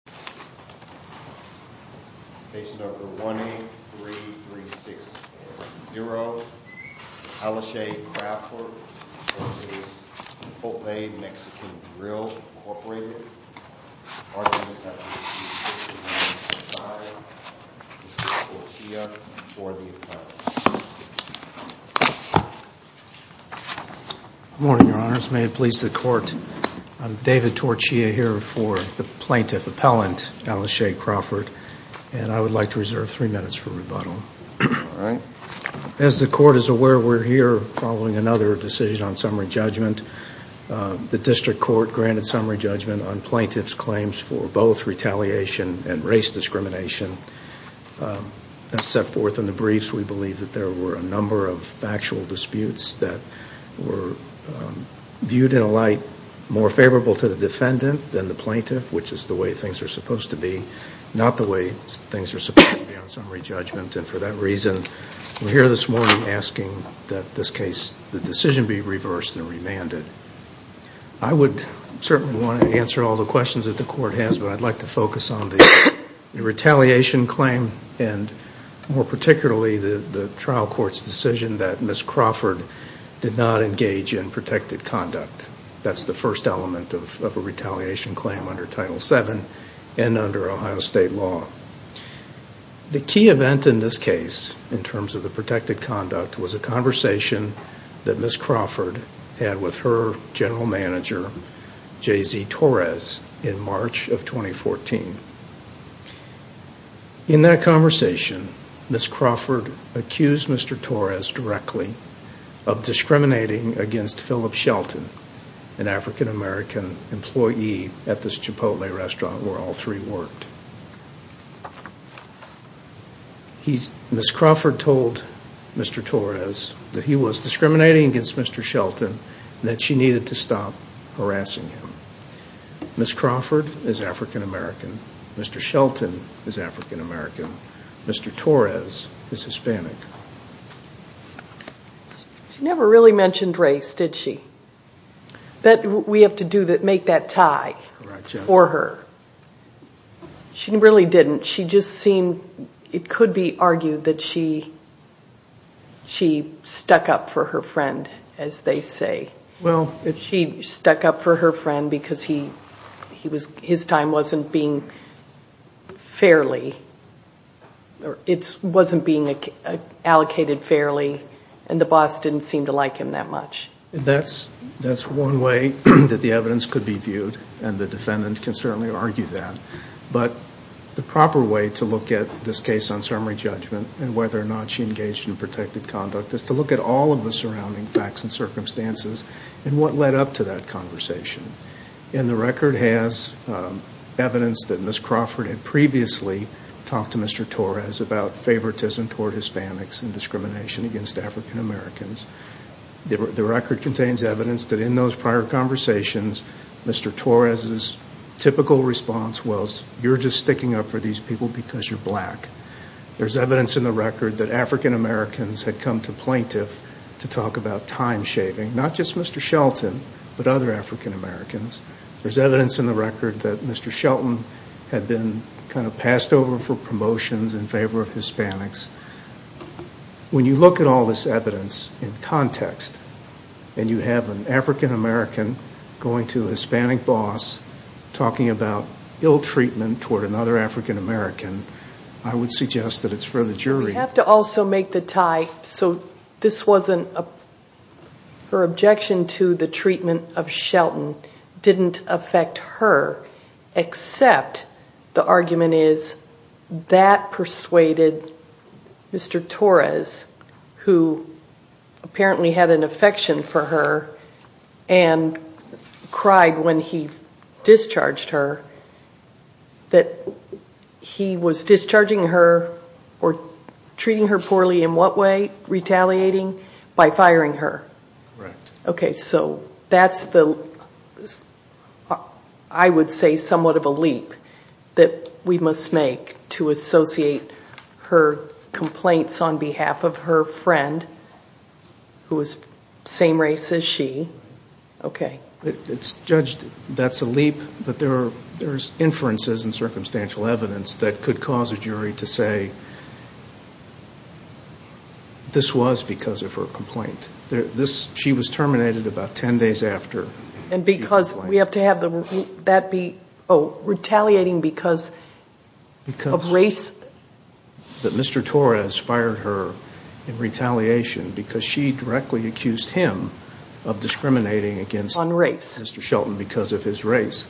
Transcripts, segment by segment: David Torchia, Plaintiff's Appellant As the Court is aware, we are here following another decision on summary judgment. The District Court granted summary judgment on plaintiff's claims for both retaliation and race discrimination. As set forth in the briefs, we believe that there were a number of factual disputes that were viewed in a light more favorable to the defendant than the plaintiff, which is the way things are supposed to be. I would certainly want to answer all the questions that the Court has, but I'd like to focus on the retaliation claim and more particularly the trial court's decision that Ms. Crawford did not engage in protected conduct. That's the first element of a retaliation claim under Title VII. The key event in this case, in terms of the protected conduct, was a conversation that Ms. Crawford had with her general manager, J. Z. Torres, in March of 2014. In that conversation, Ms. Crawford accused Mr. Torres directly of discriminating against Phillip Shelton, an African American employee at this Chipotle restaurant where all three worked. Ms. Crawford told Mr. Torres that he was discriminating against Mr. Shelton and that she needed to stop harassing him. Ms. Crawford is African American. Mr. Shelton is African American. Mr. Torres is Hispanic. She never really mentioned race, did she? That we have to make that tie for her. She really didn't. It could be argued that she stuck up for her friend, as they say. She stuck up for her friend because his time wasn't being allocated fairly and the boss didn't seem to like him that much. That's one way that the evidence could be viewed and the defendant can certainly argue that. But the proper way to look at this case on summary judgment and whether or not she engaged in protected conduct is to look at all of the surrounding facts and circumstances and what led up to that conversation. The record has evidence that Ms. Crawford had previously talked to Mr. Torres about favoritism toward Hispanics and discrimination against African Americans. The record contains evidence that in those prior conversations, Mr. Torres' typical response was, you're just sticking up for these people because you're black. There's evidence in the record that African Americans had come to plaintiff to talk about time-shaving. Not just Mr. Shelton, but other African Americans. There's evidence in the record that Mr. Shelton had been kind of passed over for promotions in favor of Hispanics. When you look at all this evidence in context and you have an African American going to a Hispanic boss talking about ill treatment toward another African American, I would suggest that it's for the jury. I have to also make the tie. Her objection to the treatment of Shelton didn't affect her, except the argument is that persuaded Mr. Torres, who apparently had an affection for her and cried when he discharged her, that he was discharging her. Treating her poorly in what way? Retaliating by firing her. Correct. Okay, so that's the, I would say, somewhat of a leap that we must make to associate her complaints on behalf of her friend, who is same race as she. Okay. Well, it's judged that's a leap, but there's inferences and circumstantial evidence that could cause a jury to say this was because of her complaint. She was terminated about 10 days after. And because we have to have that be retaliating because of race. That Mr. Torres fired her in retaliation because she directly accused him of discriminating against Mr. Shelton because of his race.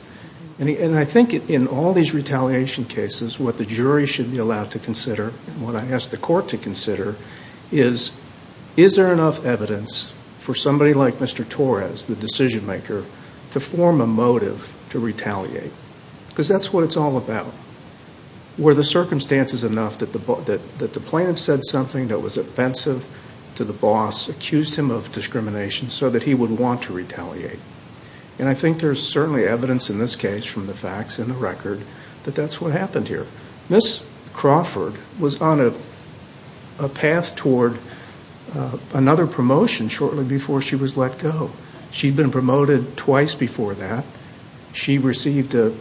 And I think in all these retaliation cases, what the jury should be allowed to consider and what I ask the court to consider is, is there enough evidence for somebody like Mr. Torres, the decision maker, to form a motive to retaliate? Because that's what it's all about. Were the circumstances enough that the plaintiff said something that was offensive to the boss, accused him of discrimination so that he would want to retaliate? And I think there's certainly evidence in this case from the facts and the record that that's what happened here. Ms. Crawford was on a path toward another promotion shortly before she was let go. She'd been promoted twice before that. She received a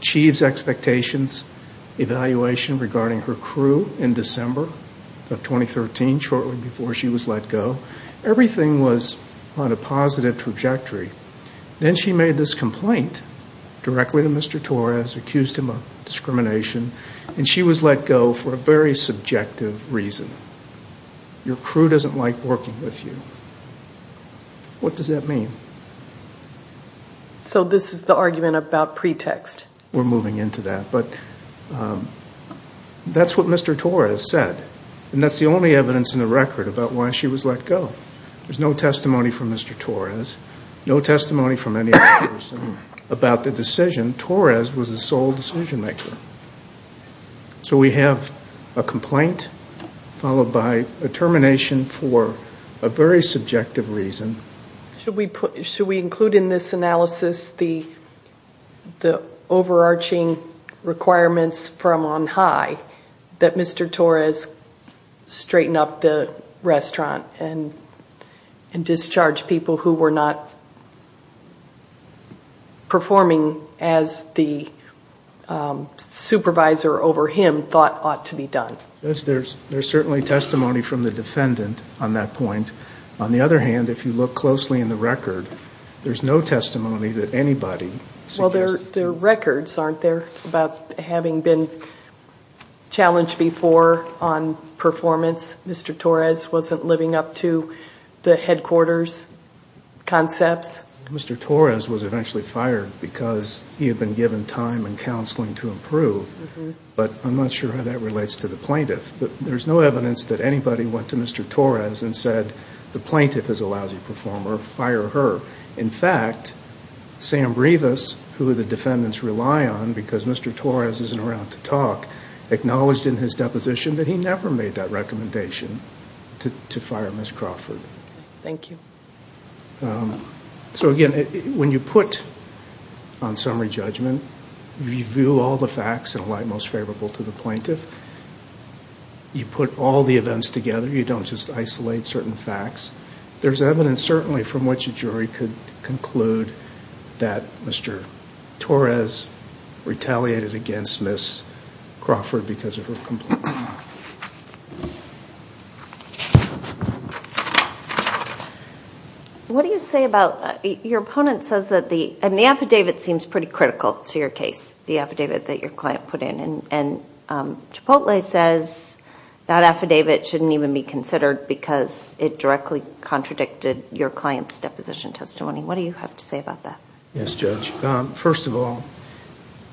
chief's expectations evaluation regarding her crew in December of 2013, shortly before she was let go. Everything was on a positive trajectory. Then she made this complaint directly to Mr. Torres, accused him of discrimination, and she was let go for a very subjective reason. Your crew doesn't like working with you. What does that mean? So this is the argument about pretext. We're moving into that, but that's what Mr. Torres said, and that's the only evidence in the record about why she was let go. There's no testimony from Mr. Torres, no testimony from any other person about the decision. Torres was the sole decision maker. So we have a complaint followed by a termination for a very subjective reason. Should we include in this analysis the overarching requirements from on high that Mr. Torres straighten up the restaurant and discharge people who were not performing as the supervisor over him thought ought to be done? Yes, there's certainly testimony from the defendant on that point. On the other hand, if you look closely in the record, there's no testimony that anybody suggests. Well, there are records, aren't there, about having been challenged before on performance. Mr. Torres wasn't living up to the headquarters concepts. Mr. Torres was eventually fired because he had been given time and counseling to improve, but I'm not sure how that relates to the plaintiff. There's no evidence that anybody went to Mr. Torres and said the plaintiff is a lousy performer, fire her. In fact, Sam Brevis, who the defendants rely on because Mr. Torres isn't around to talk, acknowledged in his deposition that he never made that recommendation to fire Ms. Crawford. Thank you. So, again, when you put on summary judgment, review all the facts in a light most favorable to the plaintiff, you put all the events together, you don't just isolate certain facts. There's evidence, certainly, from which a jury could conclude that Mr. Torres retaliated against Ms. Crawford because of her complaint. What do you say about, your opponent says that the, and the affidavit seems pretty critical to your case, the affidavit that your client put in, and Chipotle says that affidavit shouldn't even be considered because it directly contradicted your client's deposition testimony. What do you have to say about that? Yes, Judge. First of all,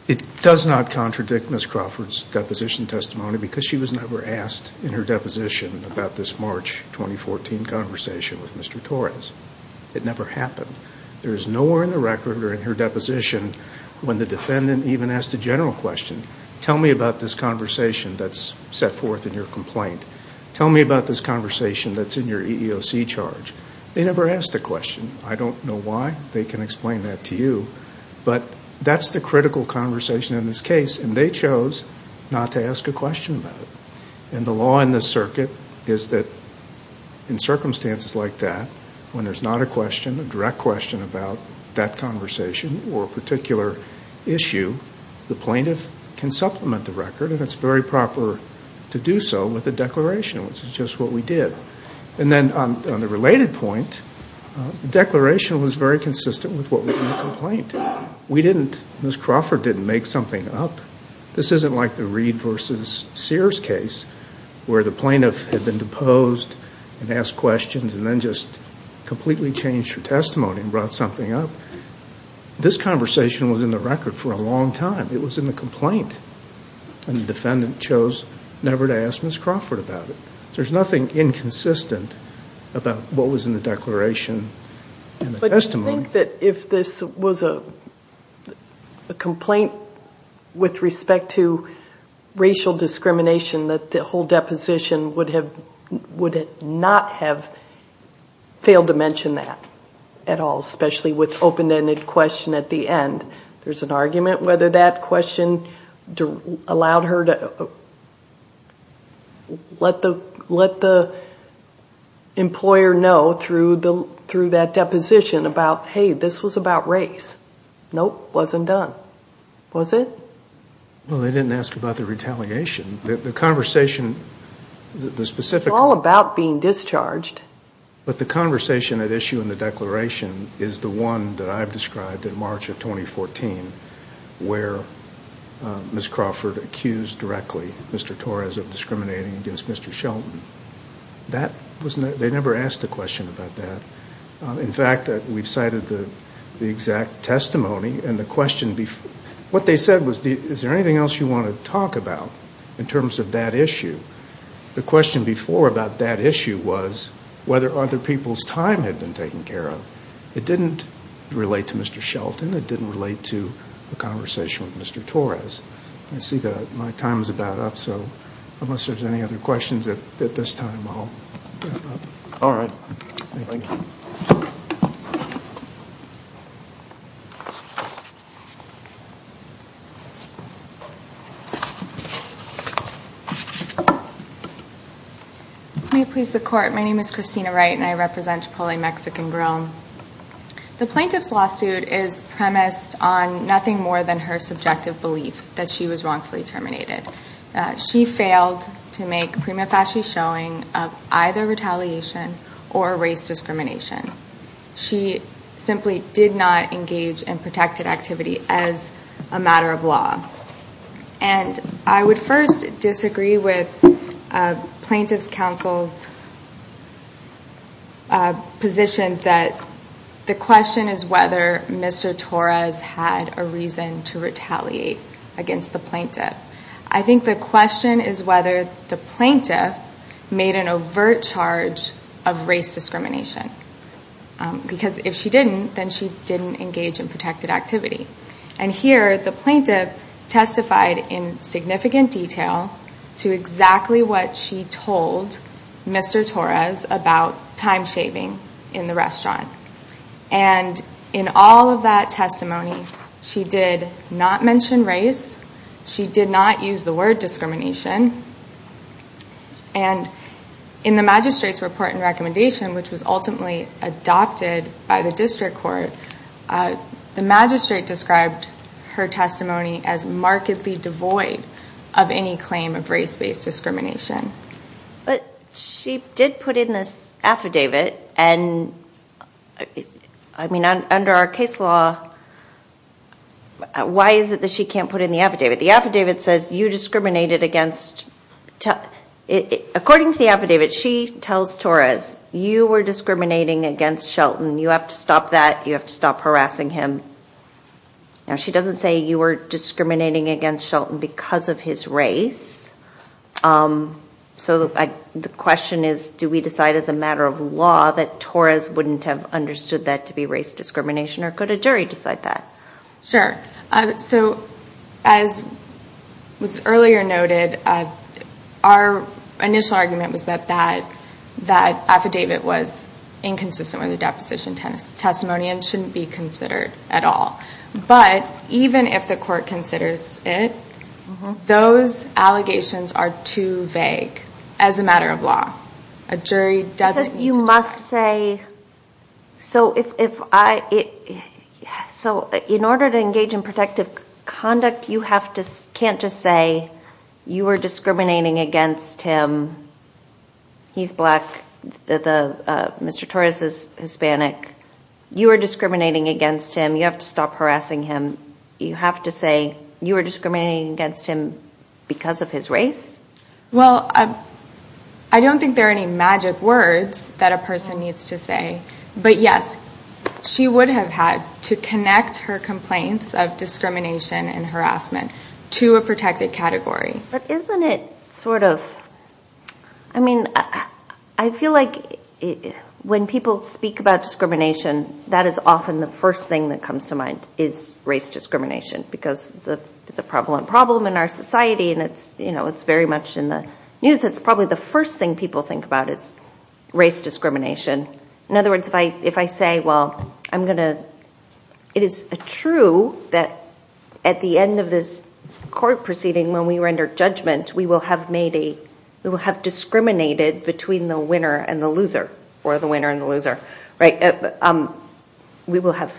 it does not contradict Ms. Crawford's deposition testimony because she was never asked in her deposition about this March 2014 conversation with Mr. Torres. It never happened. There is nowhere in the record or in her deposition when the defendant even asked a general question, tell me about this conversation that's set forth in your complaint. Tell me about this conversation that's in your EEOC charge. They never asked a question. I don't know why. They can explain that to you. But that's the critical conversation in this case, and they chose not to ask a question about it. And the law in this circuit is that in circumstances like that, when there's not a question, a direct question about that conversation or a particular issue, the plaintiff can supplement the record, and it's very proper to do so with a declaration, which is just what we did. And then on the related point, the declaration was very consistent with what was in the complaint. Ms. Crawford didn't make something up. This isn't like the Reed v. Sears case where the plaintiff had been deposed and asked questions and then just completely changed her testimony and brought something up. This conversation was in the record for a long time. It was in the complaint, and the defendant chose never to ask Ms. Crawford about it. There's nothing inconsistent about what was in the declaration and the testimony. But do you think that if this was a complaint with respect to racial discrimination, that the whole deposition would not have failed to mention that at all, especially with open-ended question at the end? There's an argument whether that question allowed her to let the employer know through that deposition about, hey, this was about race. Nope. Wasn't done. Was it? Well, they didn't ask about the retaliation. The conversation, the specific. It's all about being discharged. But the conversation at issue in the declaration is the one that I've described in March of 2014 where Ms. Crawford accused directly Mr. Torres of discriminating against Mr. Shelton. They never asked a question about that. In fact, we've cited the exact testimony. What they said was, is there anything else you want to talk about in terms of that issue? The question before about that issue was whether other people's time had been taken care of. It didn't relate to Mr. Shelton. It didn't relate to the conversation with Mr. Torres. I see that my time is about up. So unless there's any other questions at this time, I'll wrap up. All right. Thank you. May it please the Court. My name is Christina Wright, and I represent Chipotle Mexican Grill. The plaintiff's lawsuit is premised on nothing more than her subjective belief that she was wrongfully terminated. She failed to make prima facie showing of either retaliation or race discrimination. She simply did not engage in protected activity as a matter of law. And I would first disagree with Plaintiff's Counsel's position that the question is whether Mr. Torres had a reason to retaliate against the plaintiff. I think the question is whether the plaintiff made an overt charge of race discrimination. Because if she didn't, then she didn't engage in protected activity. And here, the plaintiff testified in significant detail to exactly what she told Mr. Torres about time-shaving in the restaurant. And in all of that testimony, she did not mention race. She did not use the word discrimination. And in the magistrate's report and recommendation, which was ultimately adopted by the district court, the magistrate described her testimony as markedly devoid of any claim of race-based discrimination. But she did put in this affidavit, and I mean, under our case law, why is it that she can't put in the affidavit? The affidavit says you discriminated against – according to the affidavit, she tells Torres, you were discriminating against Shelton. You have to stop that. You have to stop harassing him. Now, she doesn't say you were discriminating against Shelton because of his race. So the question is, do we decide as a matter of law that Torres wouldn't have understood that to be race discrimination, or could a jury decide that? Sure. So as was earlier noted, our initial argument was that that affidavit was inconsistent with the deposition testimony and shouldn't be considered at all. But even if the court considers it, those allegations are too vague as a matter of law. Because you must say – so in order to engage in protective conduct, you can't just say you were discriminating against him. He's black. Mr. Torres is Hispanic. You were discriminating against him. You have to stop harassing him. You have to say you were discriminating against him because of his race? Well, I don't think there are any magic words that a person needs to say. But yes, she would have had to connect her complaints of discrimination and harassment to a protected category. But isn't it sort of – I mean, I feel like when people speak about discrimination, that is often the first thing that comes to mind, is race discrimination, because it's a prevalent problem in our society, and it's very much in the news. It's probably the first thing people think about is race discrimination. In other words, if I say, well, I'm going to – it is true that at the end of this court proceeding, when we were under judgment, we will have made a – we will have discriminated between the winner and the loser, or the winner and the loser, right? We will have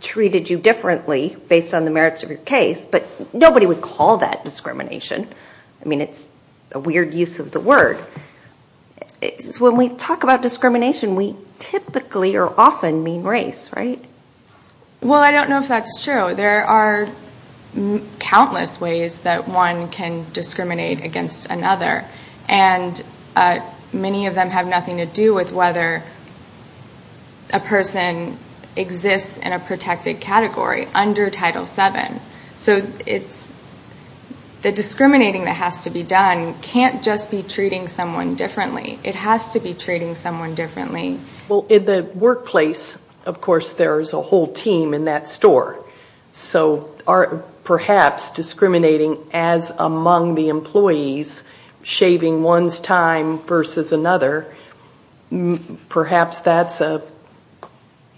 treated you differently based on the merits of your case, but nobody would call that discrimination. I mean, it's a weird use of the word. When we talk about discrimination, we typically or often mean race, right? Well, I don't know if that's true. There are countless ways that one can discriminate against another, and many of them have nothing to do with whether a person exists in a protected category under Title VII. So it's – the discriminating that has to be done can't just be treating someone differently. It has to be treating someone differently. Well, in the workplace, of course, there is a whole team in that store. So perhaps discriminating as among the employees, shaving one's time versus another, perhaps that's a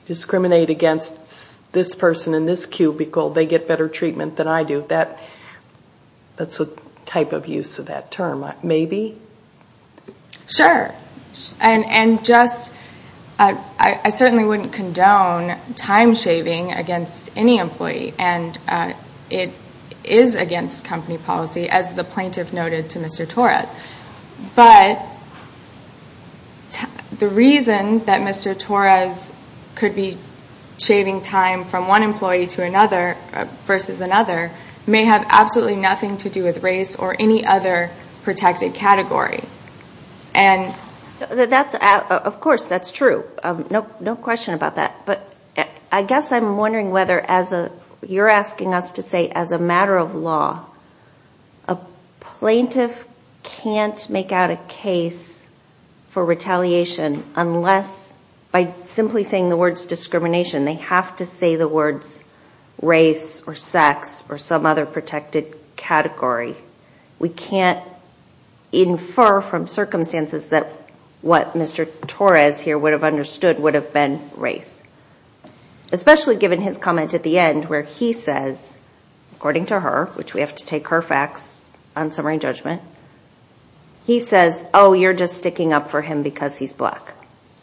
discriminate against this person in this cubicle. They get better treatment than I do. That's a type of use of that term. Maybe? Sure. And just – I certainly wouldn't condone time shaving against any employee, and it is against company policy, as the plaintiff noted to Mr. Torres. But the reason that Mr. Torres could be shaving time from one employee to another versus another may have absolutely nothing to do with race or any other protected category. And – That's – of course, that's true. No question about that. But I guess I'm wondering whether as a – you're asking us to say as a matter of law, a plaintiff can't make out a case for retaliation unless – by simply saying the words discrimination, they have to say the words race or sex or some other protected category. We can't infer from circumstances that what Mr. Torres here would have understood would have been race. Especially given his comment at the end where he says, according to her, which we have to take her facts on summary and judgment, he says, oh, you're just sticking up for him because he's black.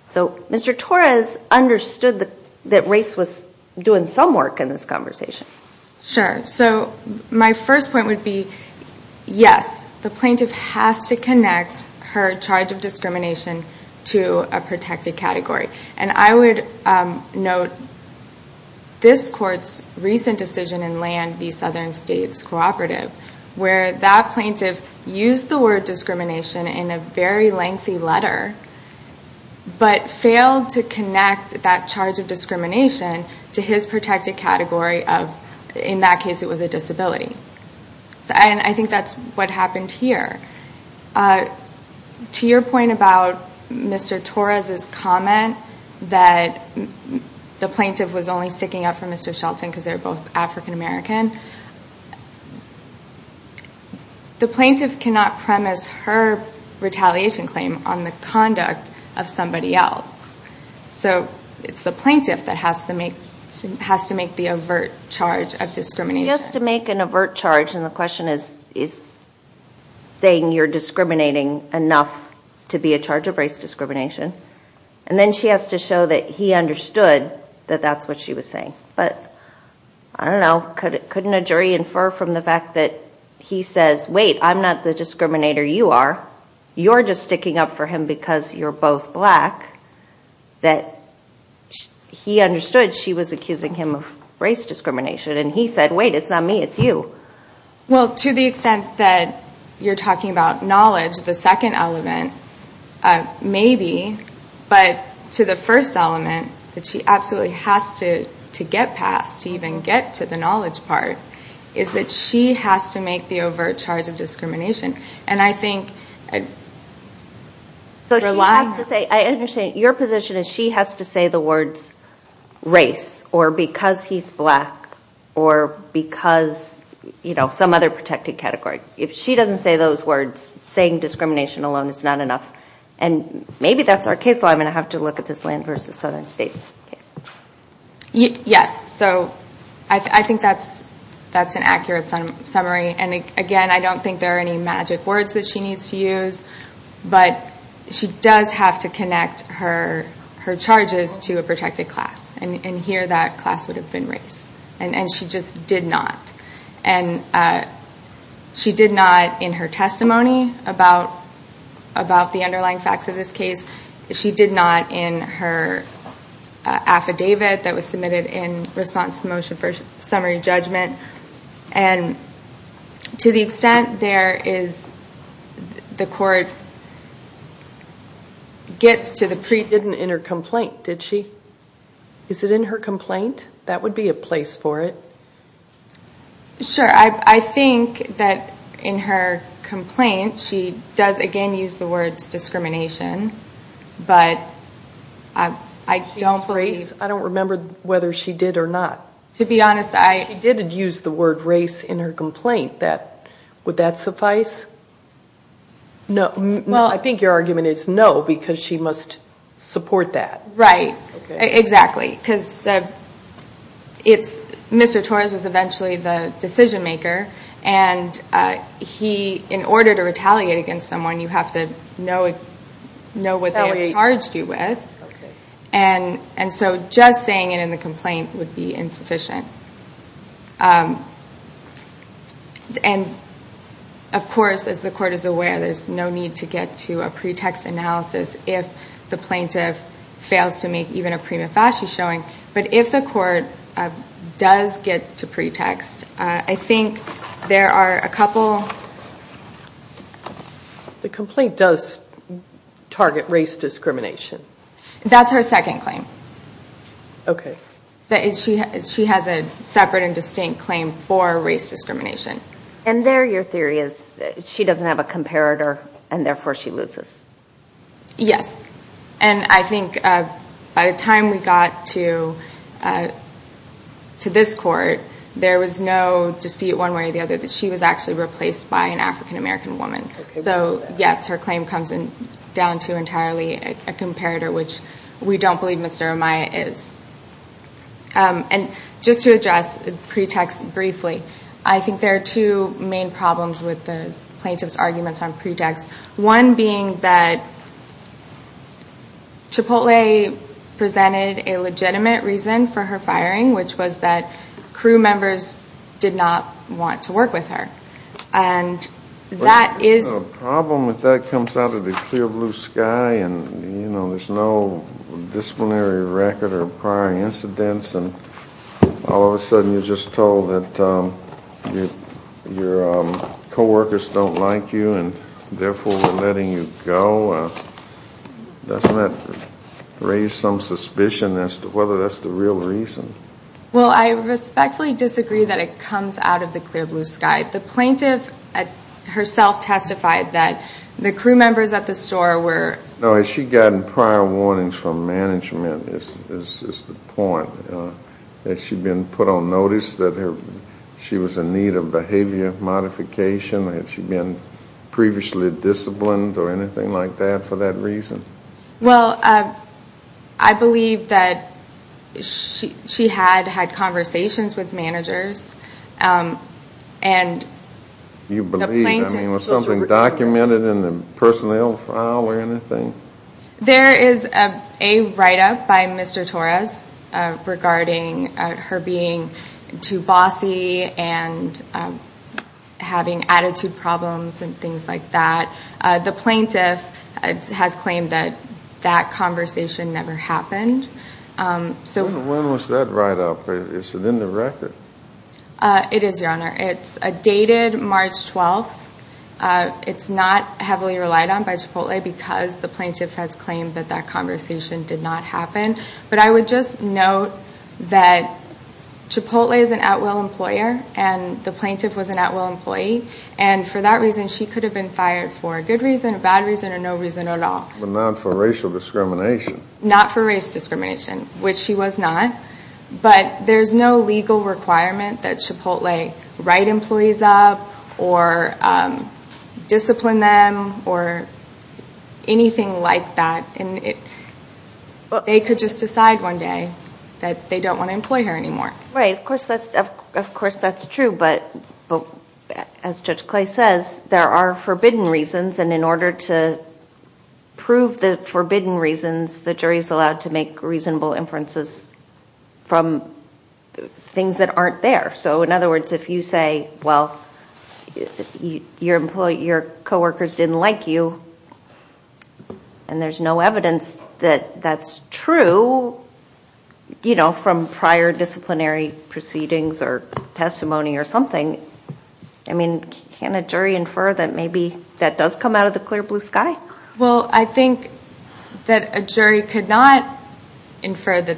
So Mr. Torres understood that race was doing some work in this conversation. Sure. So my first point would be, yes, the plaintiff has to connect her charge of discrimination to a protected category. And I would note this court's recent decision in Land v. Southern States Cooperative, where that plaintiff used the word discrimination in a very lengthy letter but failed to connect that charge of discrimination to his protected category of – in that case, it was a disability. And I think that's what happened here. To your point about Mr. Torres's comment that the plaintiff was only sticking up for Mr. Shelton because they're both African American, the plaintiff cannot premise her retaliation claim on the conduct of somebody else. So it's the plaintiff that has to make the overt charge of discrimination. He has to make an overt charge, and the question is saying you're discriminating enough to be a charge of race discrimination. And then she has to show that he understood that that's what she was saying. But, I don't know, couldn't a jury infer from the fact that he says, wait, I'm not the discriminator, you are. You're just sticking up for him because you're both black, that he understood she was accusing him of race discrimination, and he said, wait, it's not me, it's you. Well, to the extent that you're talking about knowledge, the second element, maybe. But to the first element, that she absolutely has to get past, to even get to the knowledge part, is that she has to make the overt charge of discrimination. And I think... So she has to say, I understand, your position is she has to say the words race, or because he's black, or because, you know, some other protected category. If she doesn't say those words, saying discrimination alone is not enough. And maybe that's our case law. I'm going to have to look at this land versus southern states case. Yes. So I think that's an accurate summary. And, again, I don't think there are any magic words that she needs to use. But she does have to connect her charges to a protected class. And here that class would have been race. And she just did not. And she did not in her testimony about the underlying facts of this case. She did not in her affidavit that was submitted in response to the motion for summary judgment. And to the extent there is the court gets to the... Didn't enter complaint, did she? Is it in her complaint? That would be a place for it. Sure. I think that in her complaint she does, again, use the words discrimination. But I don't believe... I don't remember whether she did or not. To be honest, I... She did use the word race in her complaint. Would that suffice? No. I think your argument is no, because she must support that. Right. Exactly. Right, because it's... Mr. Torres was eventually the decision maker. And he, in order to retaliate against someone, you have to know what they have charged you with. And so just saying it in the complaint would be insufficient. And, of course, as the court is aware, there's no need to get to a pretext analysis if the plaintiff fails to make even a prima facie showing. But if the court does get to pretext, I think there are a couple... The complaint does target race discrimination. That's her second claim. Okay. She has a separate and distinct claim for race discrimination. And there your theory is she doesn't have a comparator, and therefore she loses. Yes. And I think by the time we got to this court, there was no dispute one way or the other that she was actually replaced by an African-American woman. So, yes, her claim comes down to entirely a comparator, which we don't believe Mr. Amaya is. And just to address pretext briefly, I think there are two main problems with the plaintiff's arguments on pretext. One being that Chipotle presented a legitimate reason for her firing, which was that crew members did not want to work with her. And that is... And all of a sudden you're just told that your coworkers don't like you and therefore we're letting you go. Doesn't that raise some suspicion as to whether that's the real reason? Well, I respectfully disagree that it comes out of the clear blue sky. The plaintiff herself testified that the crew members at the store were... Has she gotten prior warnings from management, is the point? Has she been put on notice that she was in need of behavior modification? Has she been previously disciplined or anything like that for that reason? Well, I believe that she had had conversations with managers and the plaintiff... There is a write-up by Mr. Torres regarding her being too bossy and having attitude problems and things like that. The plaintiff has claimed that that conversation never happened. When was that write-up? Is it in the record? It is, Your Honor. It's dated March 12th. It's not heavily relied on by Chipotle because the plaintiff has claimed that that conversation did not happen. But I would just note that Chipotle is an at-will employer and the plaintiff was an at-will employee. And for that reason she could have been fired for a good reason, a bad reason, or no reason at all. But not for racial discrimination. Not for race discrimination, which she was not. But there's no legal requirement that Chipotle write employees up or discipline them or anything like that. They could just decide one day that they don't want to employ her anymore. Right. Of course that's true. But as Judge Clay says, there are forbidden reasons. And in order to prove the forbidden reasons, the jury is allowed to make reasonable inferences from things that aren't there. So in other words, if you say, well, your co-workers didn't like you, and there's no evidence that that's true from prior disciplinary proceedings or testimony or something, I mean, can a jury infer that maybe that does come out of the clear blue sky? Well, I think that a jury could not infer that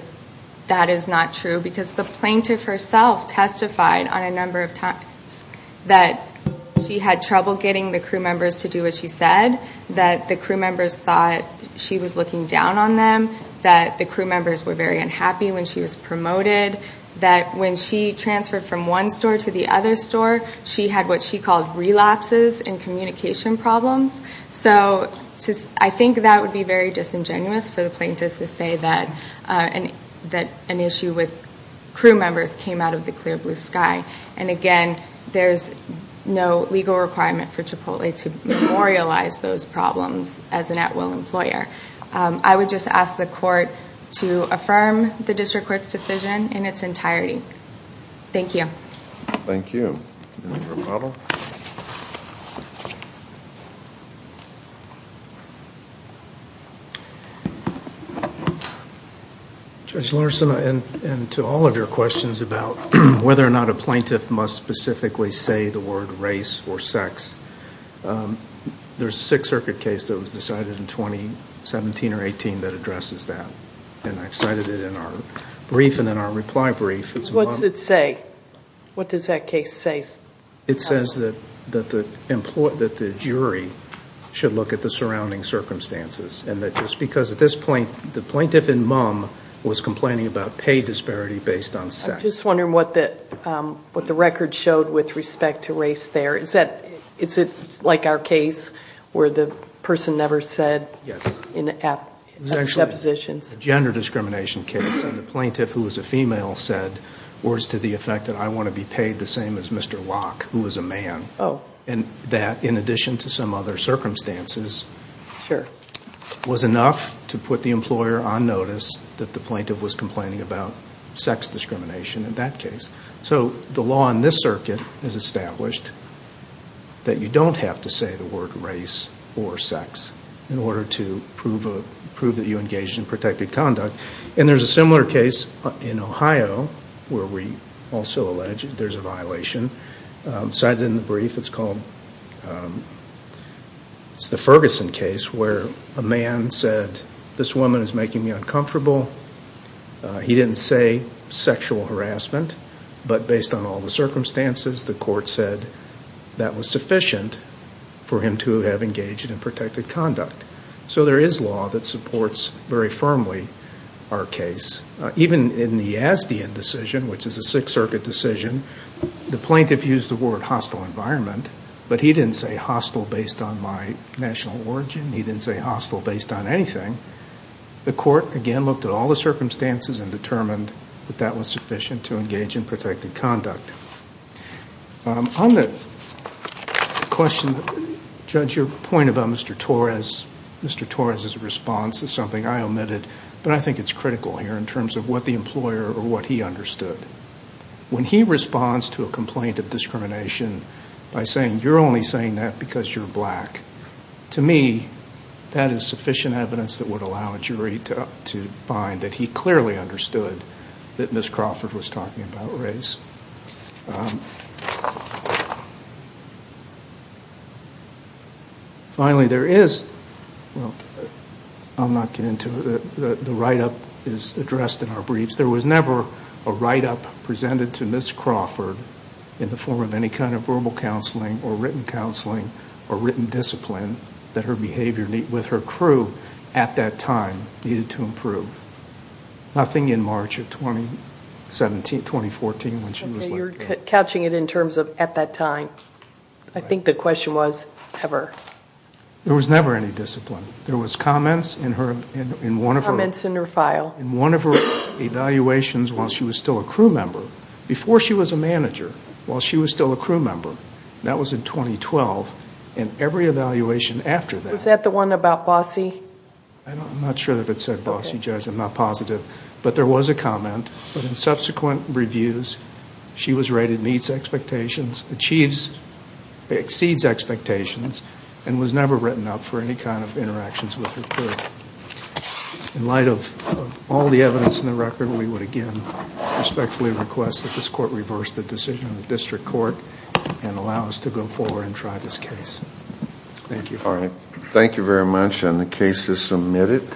that is not true because the plaintiff herself testified on a number of times that she had trouble getting the crew members to do what she said, that the crew members thought she was looking down on them, that the crew members were very unhappy when she was promoted, that when she transferred from one store to the other store, she had what she called relapses in communication problems. So I think that would be very disingenuous for the plaintiff to say that an issue with crew members came out of the clear blue sky. And again, there's no legal requirement for Chipotle to memorialize those problems as an at-will employer. I would just ask the court to affirm the district court's decision in its entirety. Thank you. Thank you. Any more problems? Judge Larson, and to all of your questions about whether or not a plaintiff must specifically say the word race or sex, there's a Sixth Circuit case that was decided in 2017 or 18 that addresses that, and I cited it in our brief and in our reply brief. What's it say? What does that case say? It says that the jury should look at the surrounding circumstances, and that just because at this point the plaintiff and mom was complaining about pay disparity based on sex. I'm just wondering what the record showed with respect to race there. Is it like our case where the person never said in the depositions? It was actually a gender discrimination case, and the plaintiff, who was a female, said words to the effect that I want to be paid the same as Mr. Locke, who was a man. Oh. And that, in addition to some other circumstances, was enough to put the employer on notice that the plaintiff was complaining about sex discrimination in that case. So the law in this circuit has established that you don't have to say the word race or sex in order to prove that you engaged in protected conduct, and there's a similar case in Ohio where we also allege there's a violation. I cited it in the brief. It's called the Ferguson case where a man said, this woman is making me uncomfortable. He didn't say sexual harassment, but based on all the circumstances, the court said that was sufficient for him to have engaged in protected conduct. So there is law that supports very firmly our case. Even in the Yazdian decision, which is a Sixth Circuit decision, the plaintiff used the word hostile environment, but he didn't say hostile based on my national origin. He didn't say hostile based on anything. The court, again, looked at all the circumstances and determined that that was sufficient to engage in protected conduct. On the question, Judge, your point about Mr. Torres, Mr. Torres' response is something I omitted, but I think it's critical here in terms of what the employer or what he understood. When he responds to a complaint of discrimination by saying you're only saying that because you're black, to me that is sufficient evidence that would allow a jury to find that he clearly understood that Ms. Crawford was talking about race. Finally, there is the write-up is addressed in our briefs. There was never a write-up presented to Ms. Crawford in the form of any kind of verbal counseling or written counseling or written discipline that her behavior with her crew at that time needed to improve. Nothing in March of 2014 when she was let go. Okay, you're couching it in terms of at that time. I think the question was ever. There was never any discipline. There was comments in one of her evaluations while she was still a crew member, before she was a manager, while she was still a crew member. That was in 2012. In every evaluation after that. Was that the one about Bossie? I'm not sure that it said Bossie, Judge. I'm not positive. But there was a comment. In subsequent reviews, she was rated meets expectations, achieves, exceeds expectations, and was never written up for any kind of interactions with her crew. In light of all the evidence in the record, we would again respectfully request that this court reverse the decision in the district court and allow us to go forward and try this case. Thank you. All right. Thank you very much, and the case is submitted.